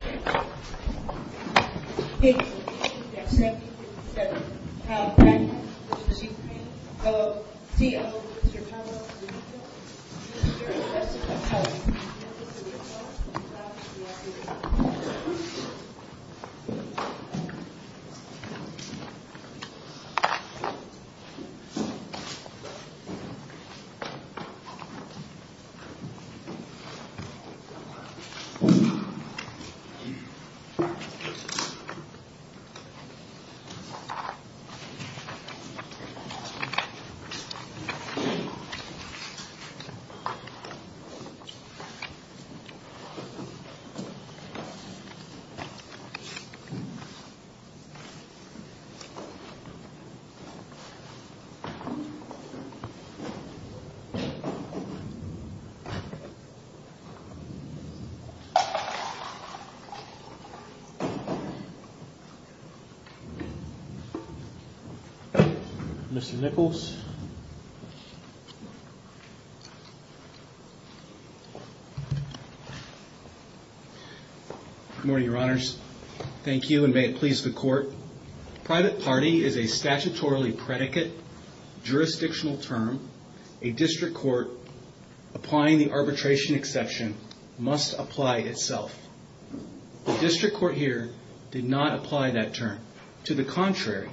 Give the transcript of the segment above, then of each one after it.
Pao Tatneft, v. Ukraine, C.O. Mr. Pavlov, D.O. Mr. Assessor of Policy, campus of the U.S. House of Representatives Mr. Assessor of Policy, campus of the U.S. House of Representatives Mr. Nichols Good morning, your honors. Thank you, and may it please the court, private party is a statutorily predicate jurisdictional term. A district court applying the arbitration exception must apply itself. The district court here did not apply that term. To the contrary,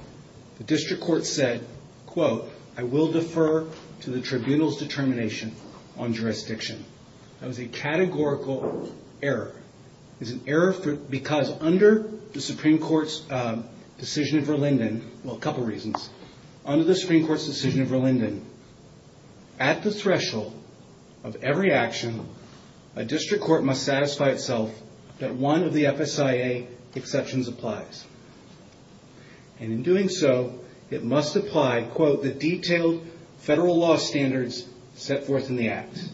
the district court said, quote, I will defer to the tribunal's determination on jurisdiction. That was a categorical error. It's an error because under the Supreme Court's decision of Verlinden, well, a couple reasons, under the Supreme Court's decision of Verlinden, at the threshold of every action, a district court must satisfy itself that one of the FSIA exceptions applies. And in doing so, it must apply, quote, the detailed federal law standards set forth in the act.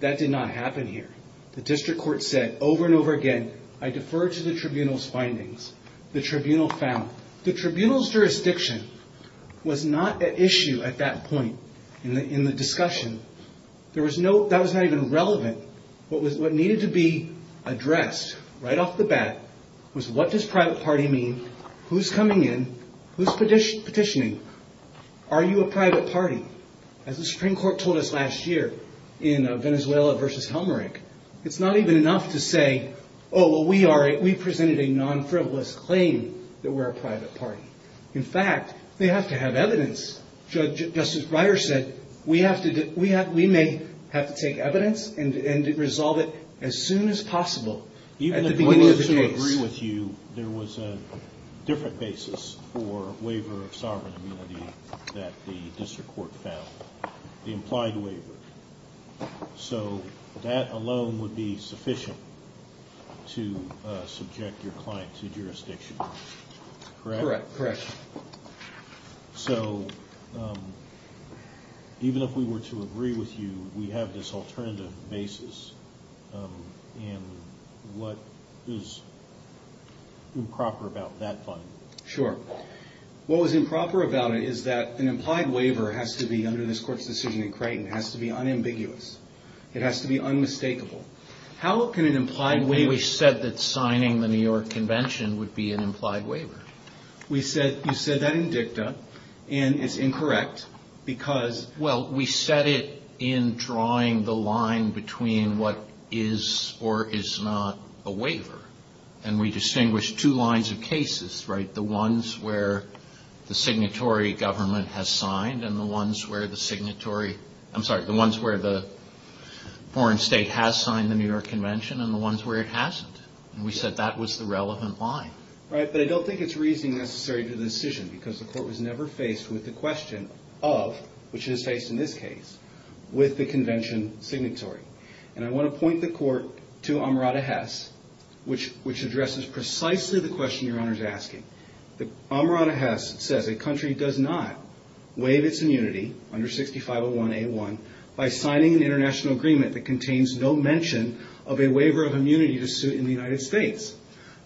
That did not happen here. The district court said over and over again, I defer to the tribunal's findings. The tribunal found the tribunal's jurisdiction was not an issue at that point in the discussion. There was no that was not even relevant. What was what needed to be addressed right off the bat was what does private party mean? Who's coming in? Who's petitioning? Are you a private party? As the Supreme Court told us last year in Venezuela versus Helmerich, it's not even enough to say, oh, well, we are. We presented a non-frivolous claim that we're a private party. In fact, they have to have evidence. Judge Justice Breyer said we have to we have we may have to take evidence and resolve it as soon as possible. At the beginning of the case. Even if we were to agree with you, there was a different basis for waiver of sovereign immunity that the district court found, the implied waiver. So that alone would be sufficient to subject your client to jurisdiction. Correct? Correct. So even if we were to agree with you, we have this alternative basis. And what is improper about that? Sure. What was improper about it is that an implied waiver has to be under this court's decision. And Creighton has to be unambiguous. It has to be unmistakable. How can an implied way we said that signing the New York Convention would be an implied waiver? We said you said that in dicta and it's incorrect because. Well, we said it in drawing the line between what is or is not a waiver. And we distinguish two lines of cases. Right. The ones where the signatory government has signed and the ones where the signatory. I'm sorry. The ones where the foreign state has signed the New York Convention and the ones where it hasn't. We said that was the relevant line. Right. But I don't think it's reasoning necessary to the decision because the court was never faced with the question of, which is faced in this case with the convention signatory. And I want to point the court to Amrata Hess, which which addresses precisely the question your honor is asking. Amrata Hess says a country does not waive its immunity under 6501 A1 by signing an international agreement that contains no mention of a waiver of immunity to suit in the United States.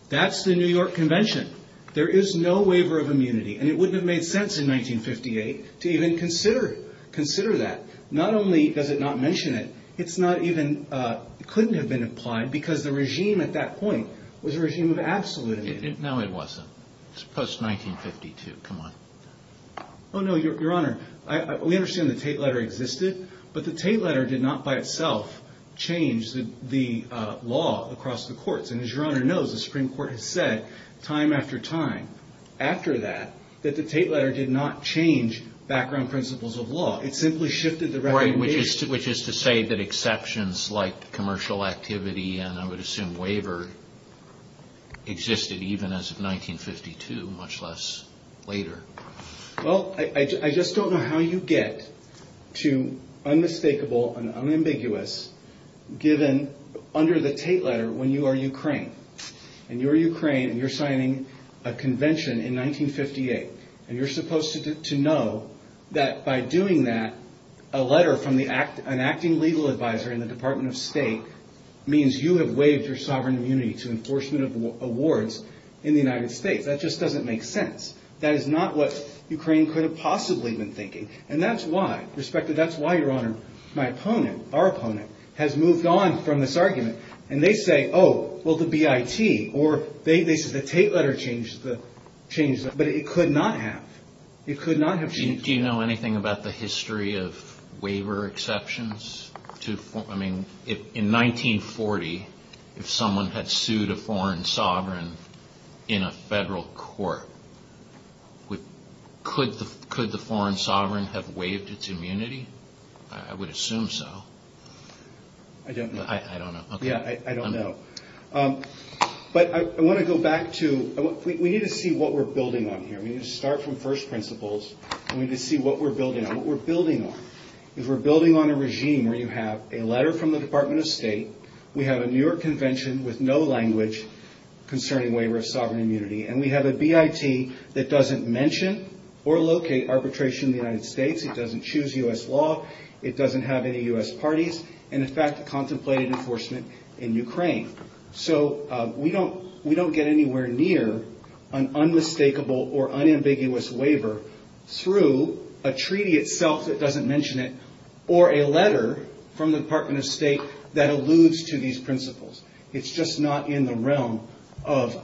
That's the New York Convention. There is no waiver of immunity. And it wouldn't have made sense in 1958 to even consider consider that. Not only does it not mention it, it's not even couldn't have been applied because the regime at that point was a regime of absolute. No, it wasn't. It's post 1952. Come on. Oh, no, your honor. We understand the Tate letter existed, but the Tate letter did not by itself change the law across the courts. And as your honor knows, the Supreme Court has said time after time after that, that the Tate letter did not change background principles of law. It simply shifted the right, which is to which is to say that exceptions like commercial activity and I would assume waiver existed even as of 1952, much less later. Well, I just don't know how you get to unmistakable and unambiguous given under the Tate letter when you are Ukraine and you're Ukraine and you're signing a convention in 1958. And you're supposed to know that by doing that, a letter from the act, an acting legal advisor in the Department of State means you have waived your sovereign immunity to enforcement of awards in the United States. That just doesn't make sense. That is not what Ukraine could have possibly been thinking. And that's why respected that's why your honor, my opponent, our opponent has moved on from this argument. And they say, oh, well, the B.I.T. or they say the Tate letter changed the change. But it could not have. It could not have. Do you know anything about the history of waiver exceptions to I mean, if in 1940, if someone had sued a foreign sovereign in a federal court. Could the could the foreign sovereign have waived its immunity? I would assume so. I don't know. I don't know. Yeah, I don't know. But I want to go back to what we need to see what we're building on here. We need to start from first principles. We need to see what we're building. What we're building on is we're building on a regime where you have a letter from the Department of State. We have a New York convention with no language concerning waiver of sovereign immunity. And we have a B.I.T. that doesn't mention or locate arbitration in the United States. It doesn't choose U.S. law. It doesn't have any U.S. parties. And in fact, contemplated enforcement in Ukraine. So we don't we don't get anywhere near an unmistakable or unambiguous waiver through a treaty itself. It doesn't mention it or a letter from the Department of State that alludes to these principles. It's just not in the realm of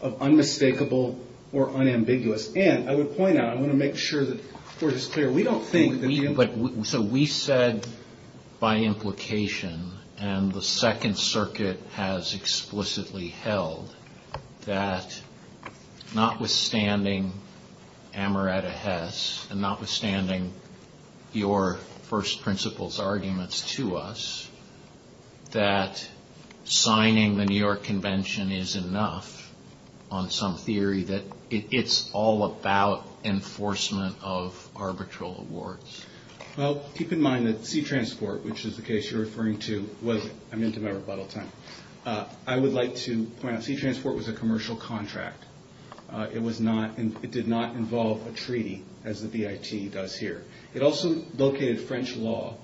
of unmistakable or unambiguous. And I would point out, I want to make sure that we're just clear. We don't think that. But so we said by implication and the Second Circuit has explicitly held that notwithstanding Amaretta Hess and notwithstanding your first principles arguments to us that signing the New York convention is enough on some theory that it's all about enforcement of arbitral awards. Well, keep in mind that sea transport, which is the case you're referring to, was I'm into my rebuttal time. I would like to point out sea transport was a commercial contract. It was not and it did not involve a treaty as the B.I.T. does here. It also located French law.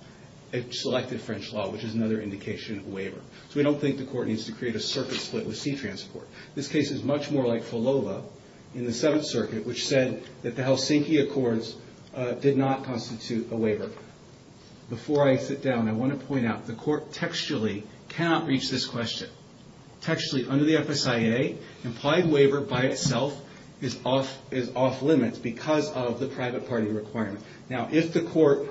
It selected French law, which is another indication of waiver. So we don't think the court needs to create a circuit split with sea transport. This case is much more like Fulova in the Seventh Circuit, which said that the Helsinki Accords did not constitute a waiver. Before I sit down, I want to point out the court textually cannot reach this question. Textually, under the FSIA, implied waiver by itself is off is off limits because of the private party requirement. Now, if the court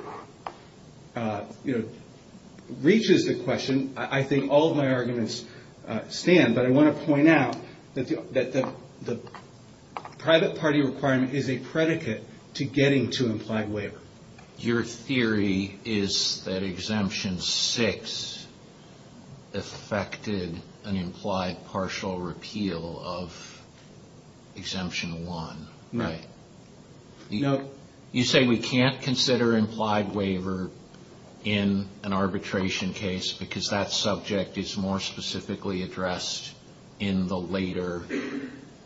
reaches the question, I think all of my arguments stand. But I want to point out that the private party requirement is a predicate to getting to implied waiver. Your theory is that Exemption 6 affected an implied partial repeal of Exemption 1, right? You say we can't consider implied waiver in an arbitration case because that subject is more specifically addressed in the later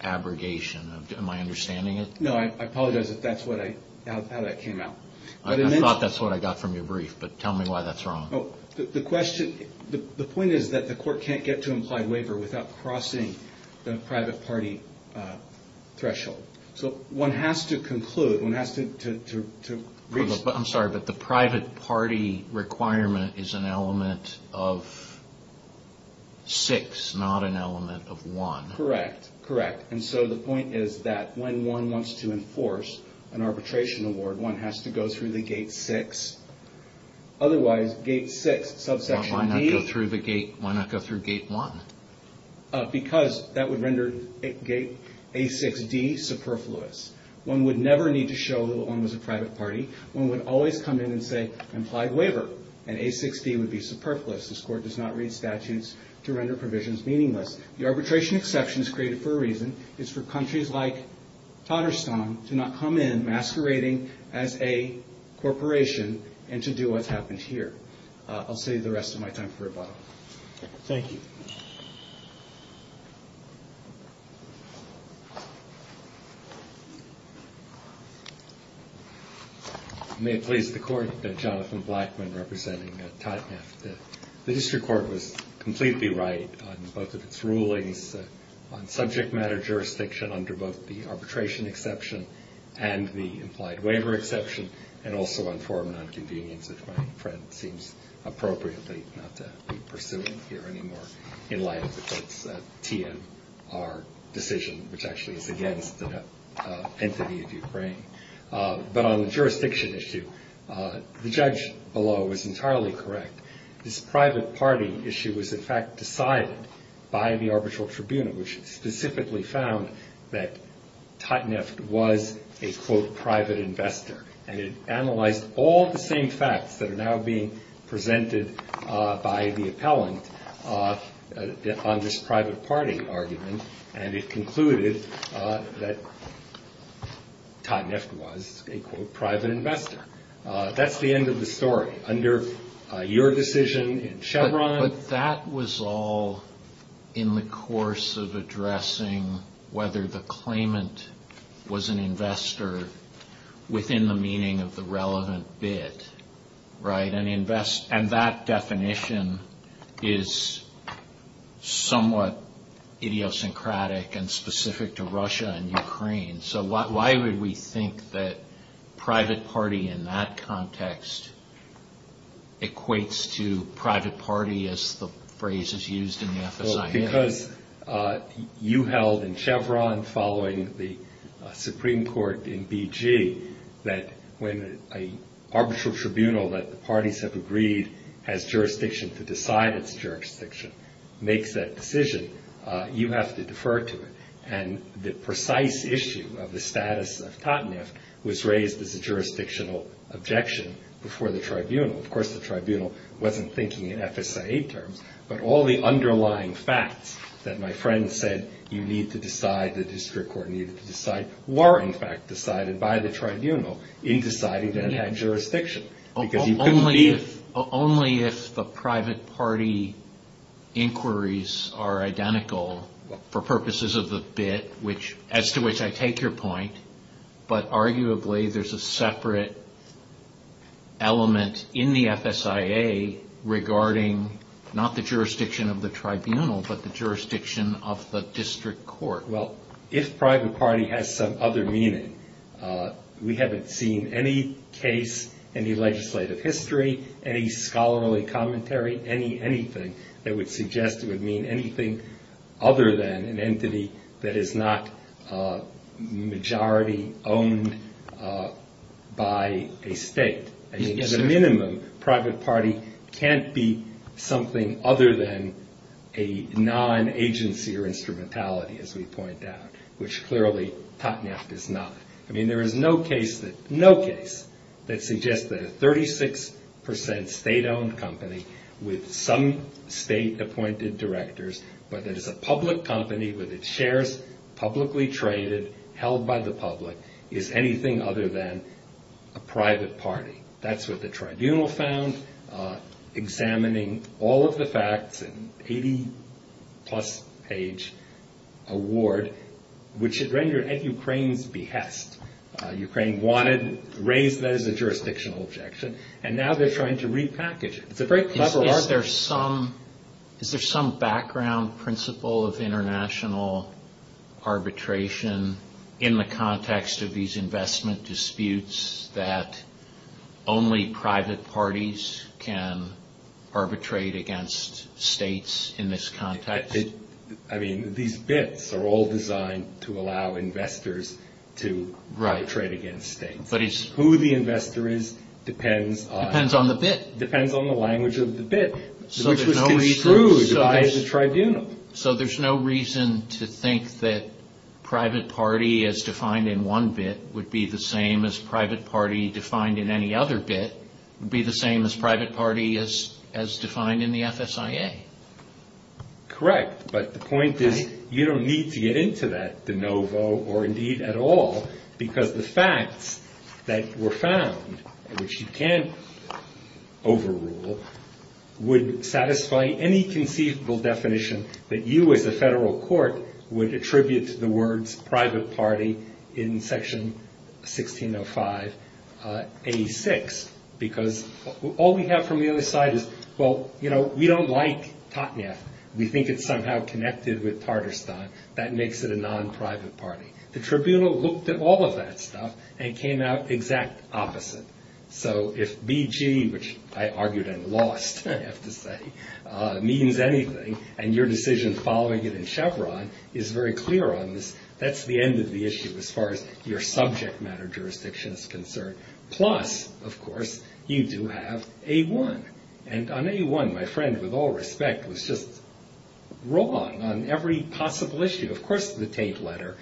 abrogation. Am I understanding it? No, I apologize if that's how that came out. I thought that's what I got from your brief, but tell me why that's wrong. The point is that the court can't get to implied waiver without crossing the private party threshold. So one has to conclude, one has to... I'm sorry, but the private party requirement is an element of 6, not an element of 1. Correct, correct. And so the point is that when one wants to enforce an arbitration award, one has to go through the gate 6. Otherwise, gate 6, subsection D... Why not go through gate 1? Because that would render gate A6D superfluous. One would never need to show that one was a private party. One would always come in and say implied waiver, and A6D would be superfluous. This Court does not read statutes to render provisions meaningless. The arbitration exception is created for a reason. It's for countries like Tatarstan to not come in masquerading as a corporation and to do what's happened here. I'll save the rest of my time for rebuttal. Thank you. May it please the Court, I'm Jonathan Blackman representing Totneff. The district court was completely right on both of its rulings on subject matter jurisdiction under both the arbitration exception and the implied waiver exception, and also on foreign nonconvenience, which my friend seems appropriately not to be pursuing here anymore, in light of the court's TNR decision, which actually is against the entity of Ukraine. But on the jurisdiction issue, the judge below was entirely correct. This private party issue was, in fact, decided by the arbitral tribunal, which specifically found that Totneff was a, quote, private investor. And it analyzed all the same facts that are now being presented by the appellant on this private party argument, and it concluded that Totneff was a, quote, private investor. That's the end of the story. Under your decision in Chevron. But that was all in the course of addressing whether the claimant was an investor within the meaning of the relevant bid, right? And that definition is somewhat idiosyncratic and specific to Russia and Ukraine. So why would we think that private party in that context equates to private party as the phrase is used in the FSIA? Because you held in Chevron following the Supreme Court in BG that when an arbitral tribunal that the parties have agreed has jurisdiction to decide its jurisdiction, makes that decision, you have to defer to it. And the precise issue of the status of Totneff was raised as a jurisdictional objection before the tribunal. Of course, the tribunal wasn't thinking in FSIA terms. But all the underlying facts that my friend said you need to decide, the district court needed to decide, were, in fact, decided by the tribunal in deciding that it had jurisdiction. Only if the private party inquiries are identical for purposes of the bid, as to which I take your point, but arguably there's a separate element in the FSIA regarding not the jurisdiction of the tribunal, but the jurisdiction of the district court. Well, if private party has some other meaning, we haven't seen any case, any legislative history, any scholarly commentary, anything that would suggest it would mean anything other than an entity that is not majority owned by a state. At a minimum, private party can't be something other than a non-agency or instrumentality, as we point out, which clearly Totneff is not. I mean, there is no case that suggests that a 36% state-owned company with some state-appointed directors, but that it's a public company with its shares publicly traded, held by the public, is anything other than a private party. That's what the tribunal found, examining all of the facts, an 80-plus page award, which it rendered at Ukraine's behest. Ukraine wanted to raise that as a jurisdictional objection, and now they're trying to repackage it. It's a very clever argument. Is there some background principle of international arbitration in the context of these investment disputes that only private parties can arbitrate against states in this context? I mean, these bits are all designed to allow investors to arbitrate against states. Who the investor is depends on... Depends on the bit. Depends on the language of the bit, which was construed by the tribunal. So there's no reason to think that private party, as defined in one bit, would be the same as private party defined in any other bit, would be the same as private party as defined in the FSIA? Correct. But the point is, you don't need to get into that de novo or indeed at all, because the facts that were found, which you can't overrule, would satisfy any conceivable definition that you as a federal court would attribute to the words private party in section 1605A6. Because all we have from the other side is, well, you know, we don't like Totneff. We think it's somehow connected with Tartarstan. That makes it a non-private party. The tribunal looked at all of that stuff and came out exact opposite. So if BG, which I argued and lost, I have to say, means anything and your decision following it in Chevron is very clear on this, that's the end of the issue as far as your subject matter jurisdiction is concerned. Plus, of course, you do have A1. And on A1, my friend, with all respect, was just wrong on every possible issue. Of course the Tate letter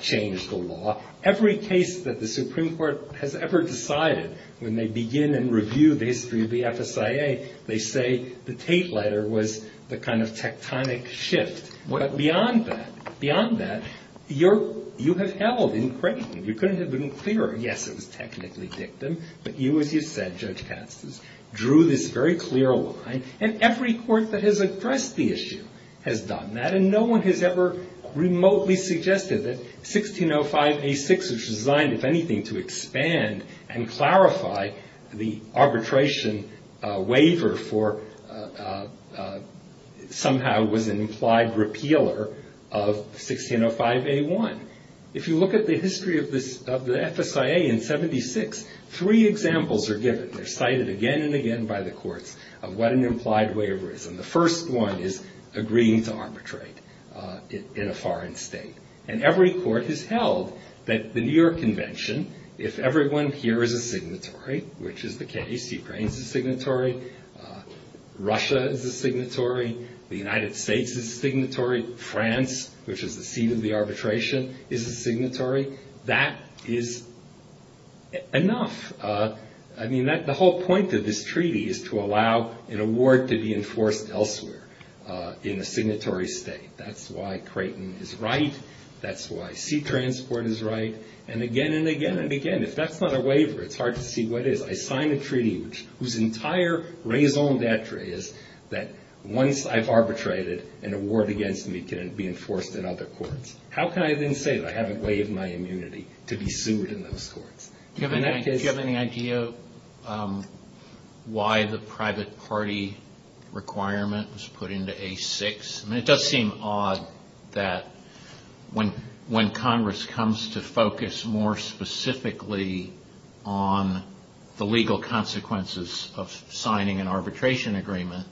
changed the law. Every case that the Supreme Court has ever decided, when they begin and review the history of the FSIA, they say the Tate letter was the kind of tectonic shift. But beyond that, beyond that, you have held in Creighton, you couldn't have been clearer. Yes, it was technically dictum. But you, as you said, Judge Katz, drew this very clear line. And every court that has addressed the issue has done that. And no one has ever remotely suggested that 1605A6, which was designed, if anything, to expand and clarify the arbitration waiver for somehow was an implied repealer of 1605A1. If you look at the history of the FSIA in 76, three examples are given. They're cited again and again by the courts of what an implied waiver is. And the first one is agreeing to arbitrate in a foreign state. And every court has held that the New York Convention, if everyone here is a signatory, which is the case, Ukraine is a signatory, Russia is a signatory, the United States is a signatory, France, which is the seat of the arbitration, is a signatory. That is enough. I mean, the whole point of this treaty is to allow an award to be enforced elsewhere in a signatory state. That's why Creighton is right. That's why sea transport is right. And again and again and again, if that's not a waiver, it's hard to see what is. I sign a treaty whose entire raison d'etre is that once I've arbitrated, an award against me can be enforced in other courts. How can I then say that I haven't waived my immunity to be sued in those courts? Do you have any idea why the private party requirement was put into A6? I mean, it does seem odd that when Congress comes to focus more specifically on the legal consequences of signing an arbitration agreement,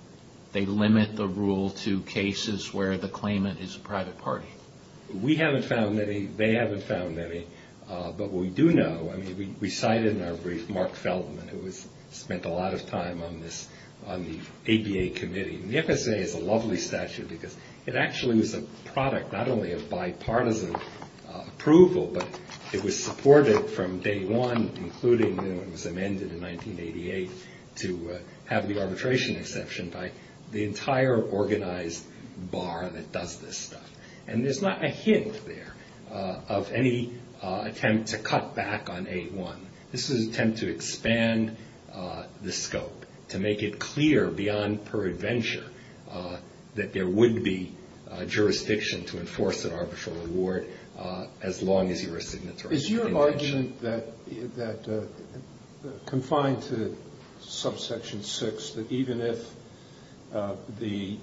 they limit the rule to cases where the claimant is a private party. We haven't found any. They haven't found any. But what we do know, I mean, we cited in our brief Mark Feldman, who has spent a lot of time on the ABA committee. And the FSA is a lovely statute because it actually was a product not only of bipartisan approval, but it was supported from day one, including when it was amended in 1988, to have the arbitration exception by the entire organized bar that does this stuff. And there's not a hint there of any attempt to cut back on A1. This was an attempt to expand the scope, to make it clear beyond per adventure that there would be jurisdiction to enforce an arbitral award as long as you were a signatory. Is your argument confined to subsection 6, that even if the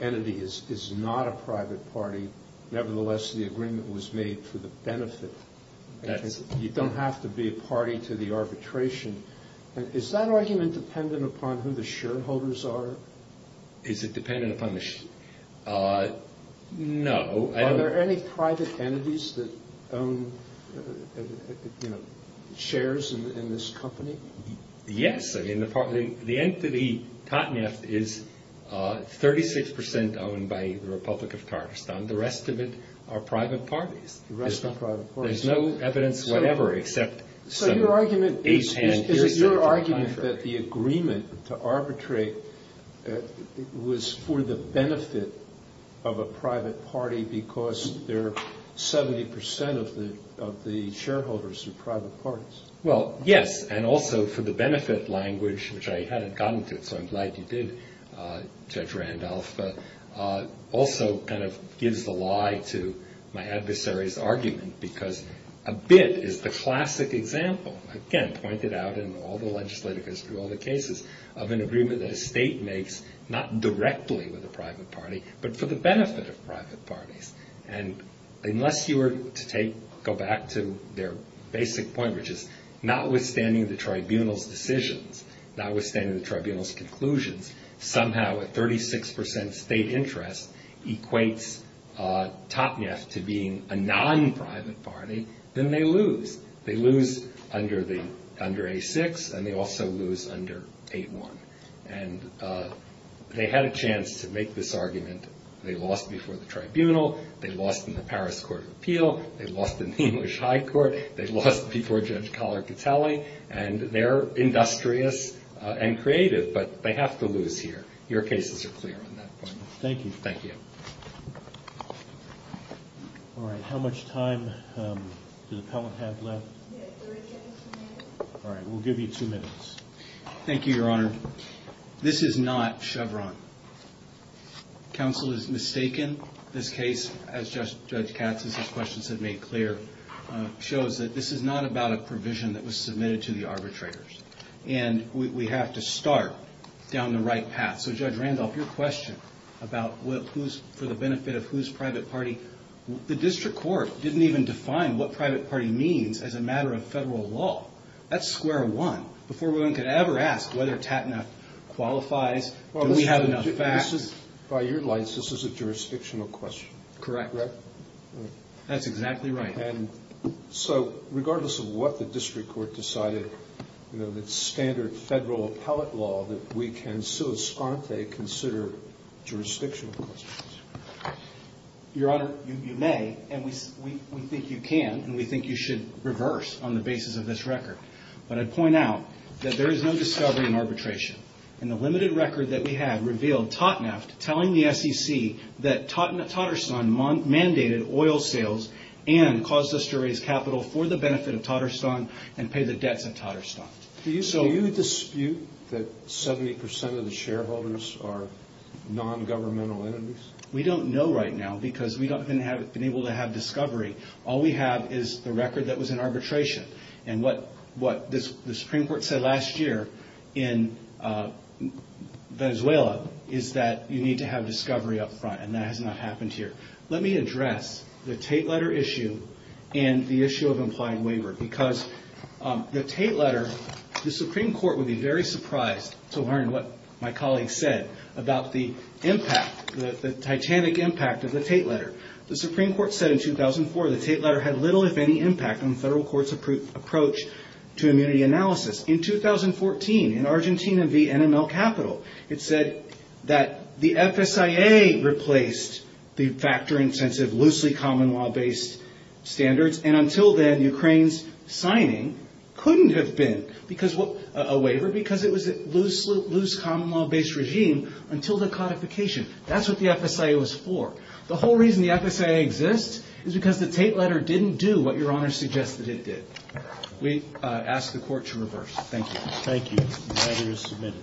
entity is not a private party, nevertheless the agreement was made for the benefit? You don't have to be a party to the arbitration. Is that argument dependent upon who the shareholders are? Is it dependent upon the shareholders? No. Are there any private entities that own, you know, shares in this company? Yes. I mean, the entity Totneft is 36 percent owned by the Republic of Tatarstan. The rest of it are private parties. The rest are private parties. There's no evidence whatever except some age hand. Is it your argument that the agreement to arbitrate was for the benefit of a private party because they're 70 percent of the shareholders are private parties? Well, yes. And also for the benefit language, which I hadn't gotten to, so I'm glad you did, Judge Randolph, also kind of gives the lie to my adversary's argument because a bit is the classic example, again, pointed out in all the legislative history, all the cases, of an agreement that a state makes not directly with a private party but for the benefit of private parties. And unless you were to go back to their basic point, which is notwithstanding the tribunal's decisions, notwithstanding the tribunal's conclusions, somehow a 36 percent state interest equates Totneft to being a non-private party, then they lose. They lose under A-6 and they also lose under A-1. And they had a chance to make this argument. They lost before the tribunal. They lost in the Paris Court of Appeal. They lost in the English High Court. They lost before Judge Collar-Gatelli. And they're industrious and creative, but they have to lose here. Your cases are clear on that point. Thank you. Thank you. All right. How much time does the appellant have left? We have 30 seconds remaining. All right. We'll give you two minutes. Thank you, Your Honor. This is not Chevron. Counsel is mistaken. This case, as Judge Katz has had questions that made clear, shows that this is not about a provision that was submitted to the arbitrators. And we have to start down the right path. So, Judge Randolph, your question about who's for the benefit of whose private party, the district court didn't even define what private party means as a matter of federal law. That's square one. Before one could ever ask whether TATNAF qualifies, do we have enough facts? By your license, this is a jurisdictional question. Correct. Right? That's exactly right. And so, regardless of what the district court decided, you know, the standard federal appellate law, that we can sui sponte consider jurisdictional questions. Your Honor, you may. And we think you can. And we think you should reverse on the basis of this record. But I'd point out that there is no discovery in arbitration. And the limited record that we have revealed TATNAF telling the SEC that Tatarstan mandated oil sales and caused us to raise capital for the benefit of Tatarstan and pay the debts in Tatarstan. Do you dispute that 70% of the shareholders are non-governmental entities? We don't know right now because we haven't been able to have discovery. All we have is the record that was in arbitration. And what the Supreme Court said last year in Venezuela is that you need to have discovery up front. And that has not happened here. Let me address the Tate letter issue and the issue of implied waiver. Because the Tate letter, the Supreme Court would be very surprised to learn what my colleague said about the impact, the titanic impact of the Tate letter. The Supreme Court said in 2004 the Tate letter had little if any impact on the federal court's approach to immunity analysis. In 2014, in Argentina v. NML Capital, it said that the FSIA replaced the factor-intensive, loosely common-law-based standards. And until then, Ukraine's signing couldn't have been a waiver because it was a loose, common-law-based regime until the codification. That's what the FSIA was for. The whole reason the FSIA exists is because the Tate letter didn't do what Your Honor suggests that it did. We ask the court to reverse. Thank you. Thank you. The letter is submitted.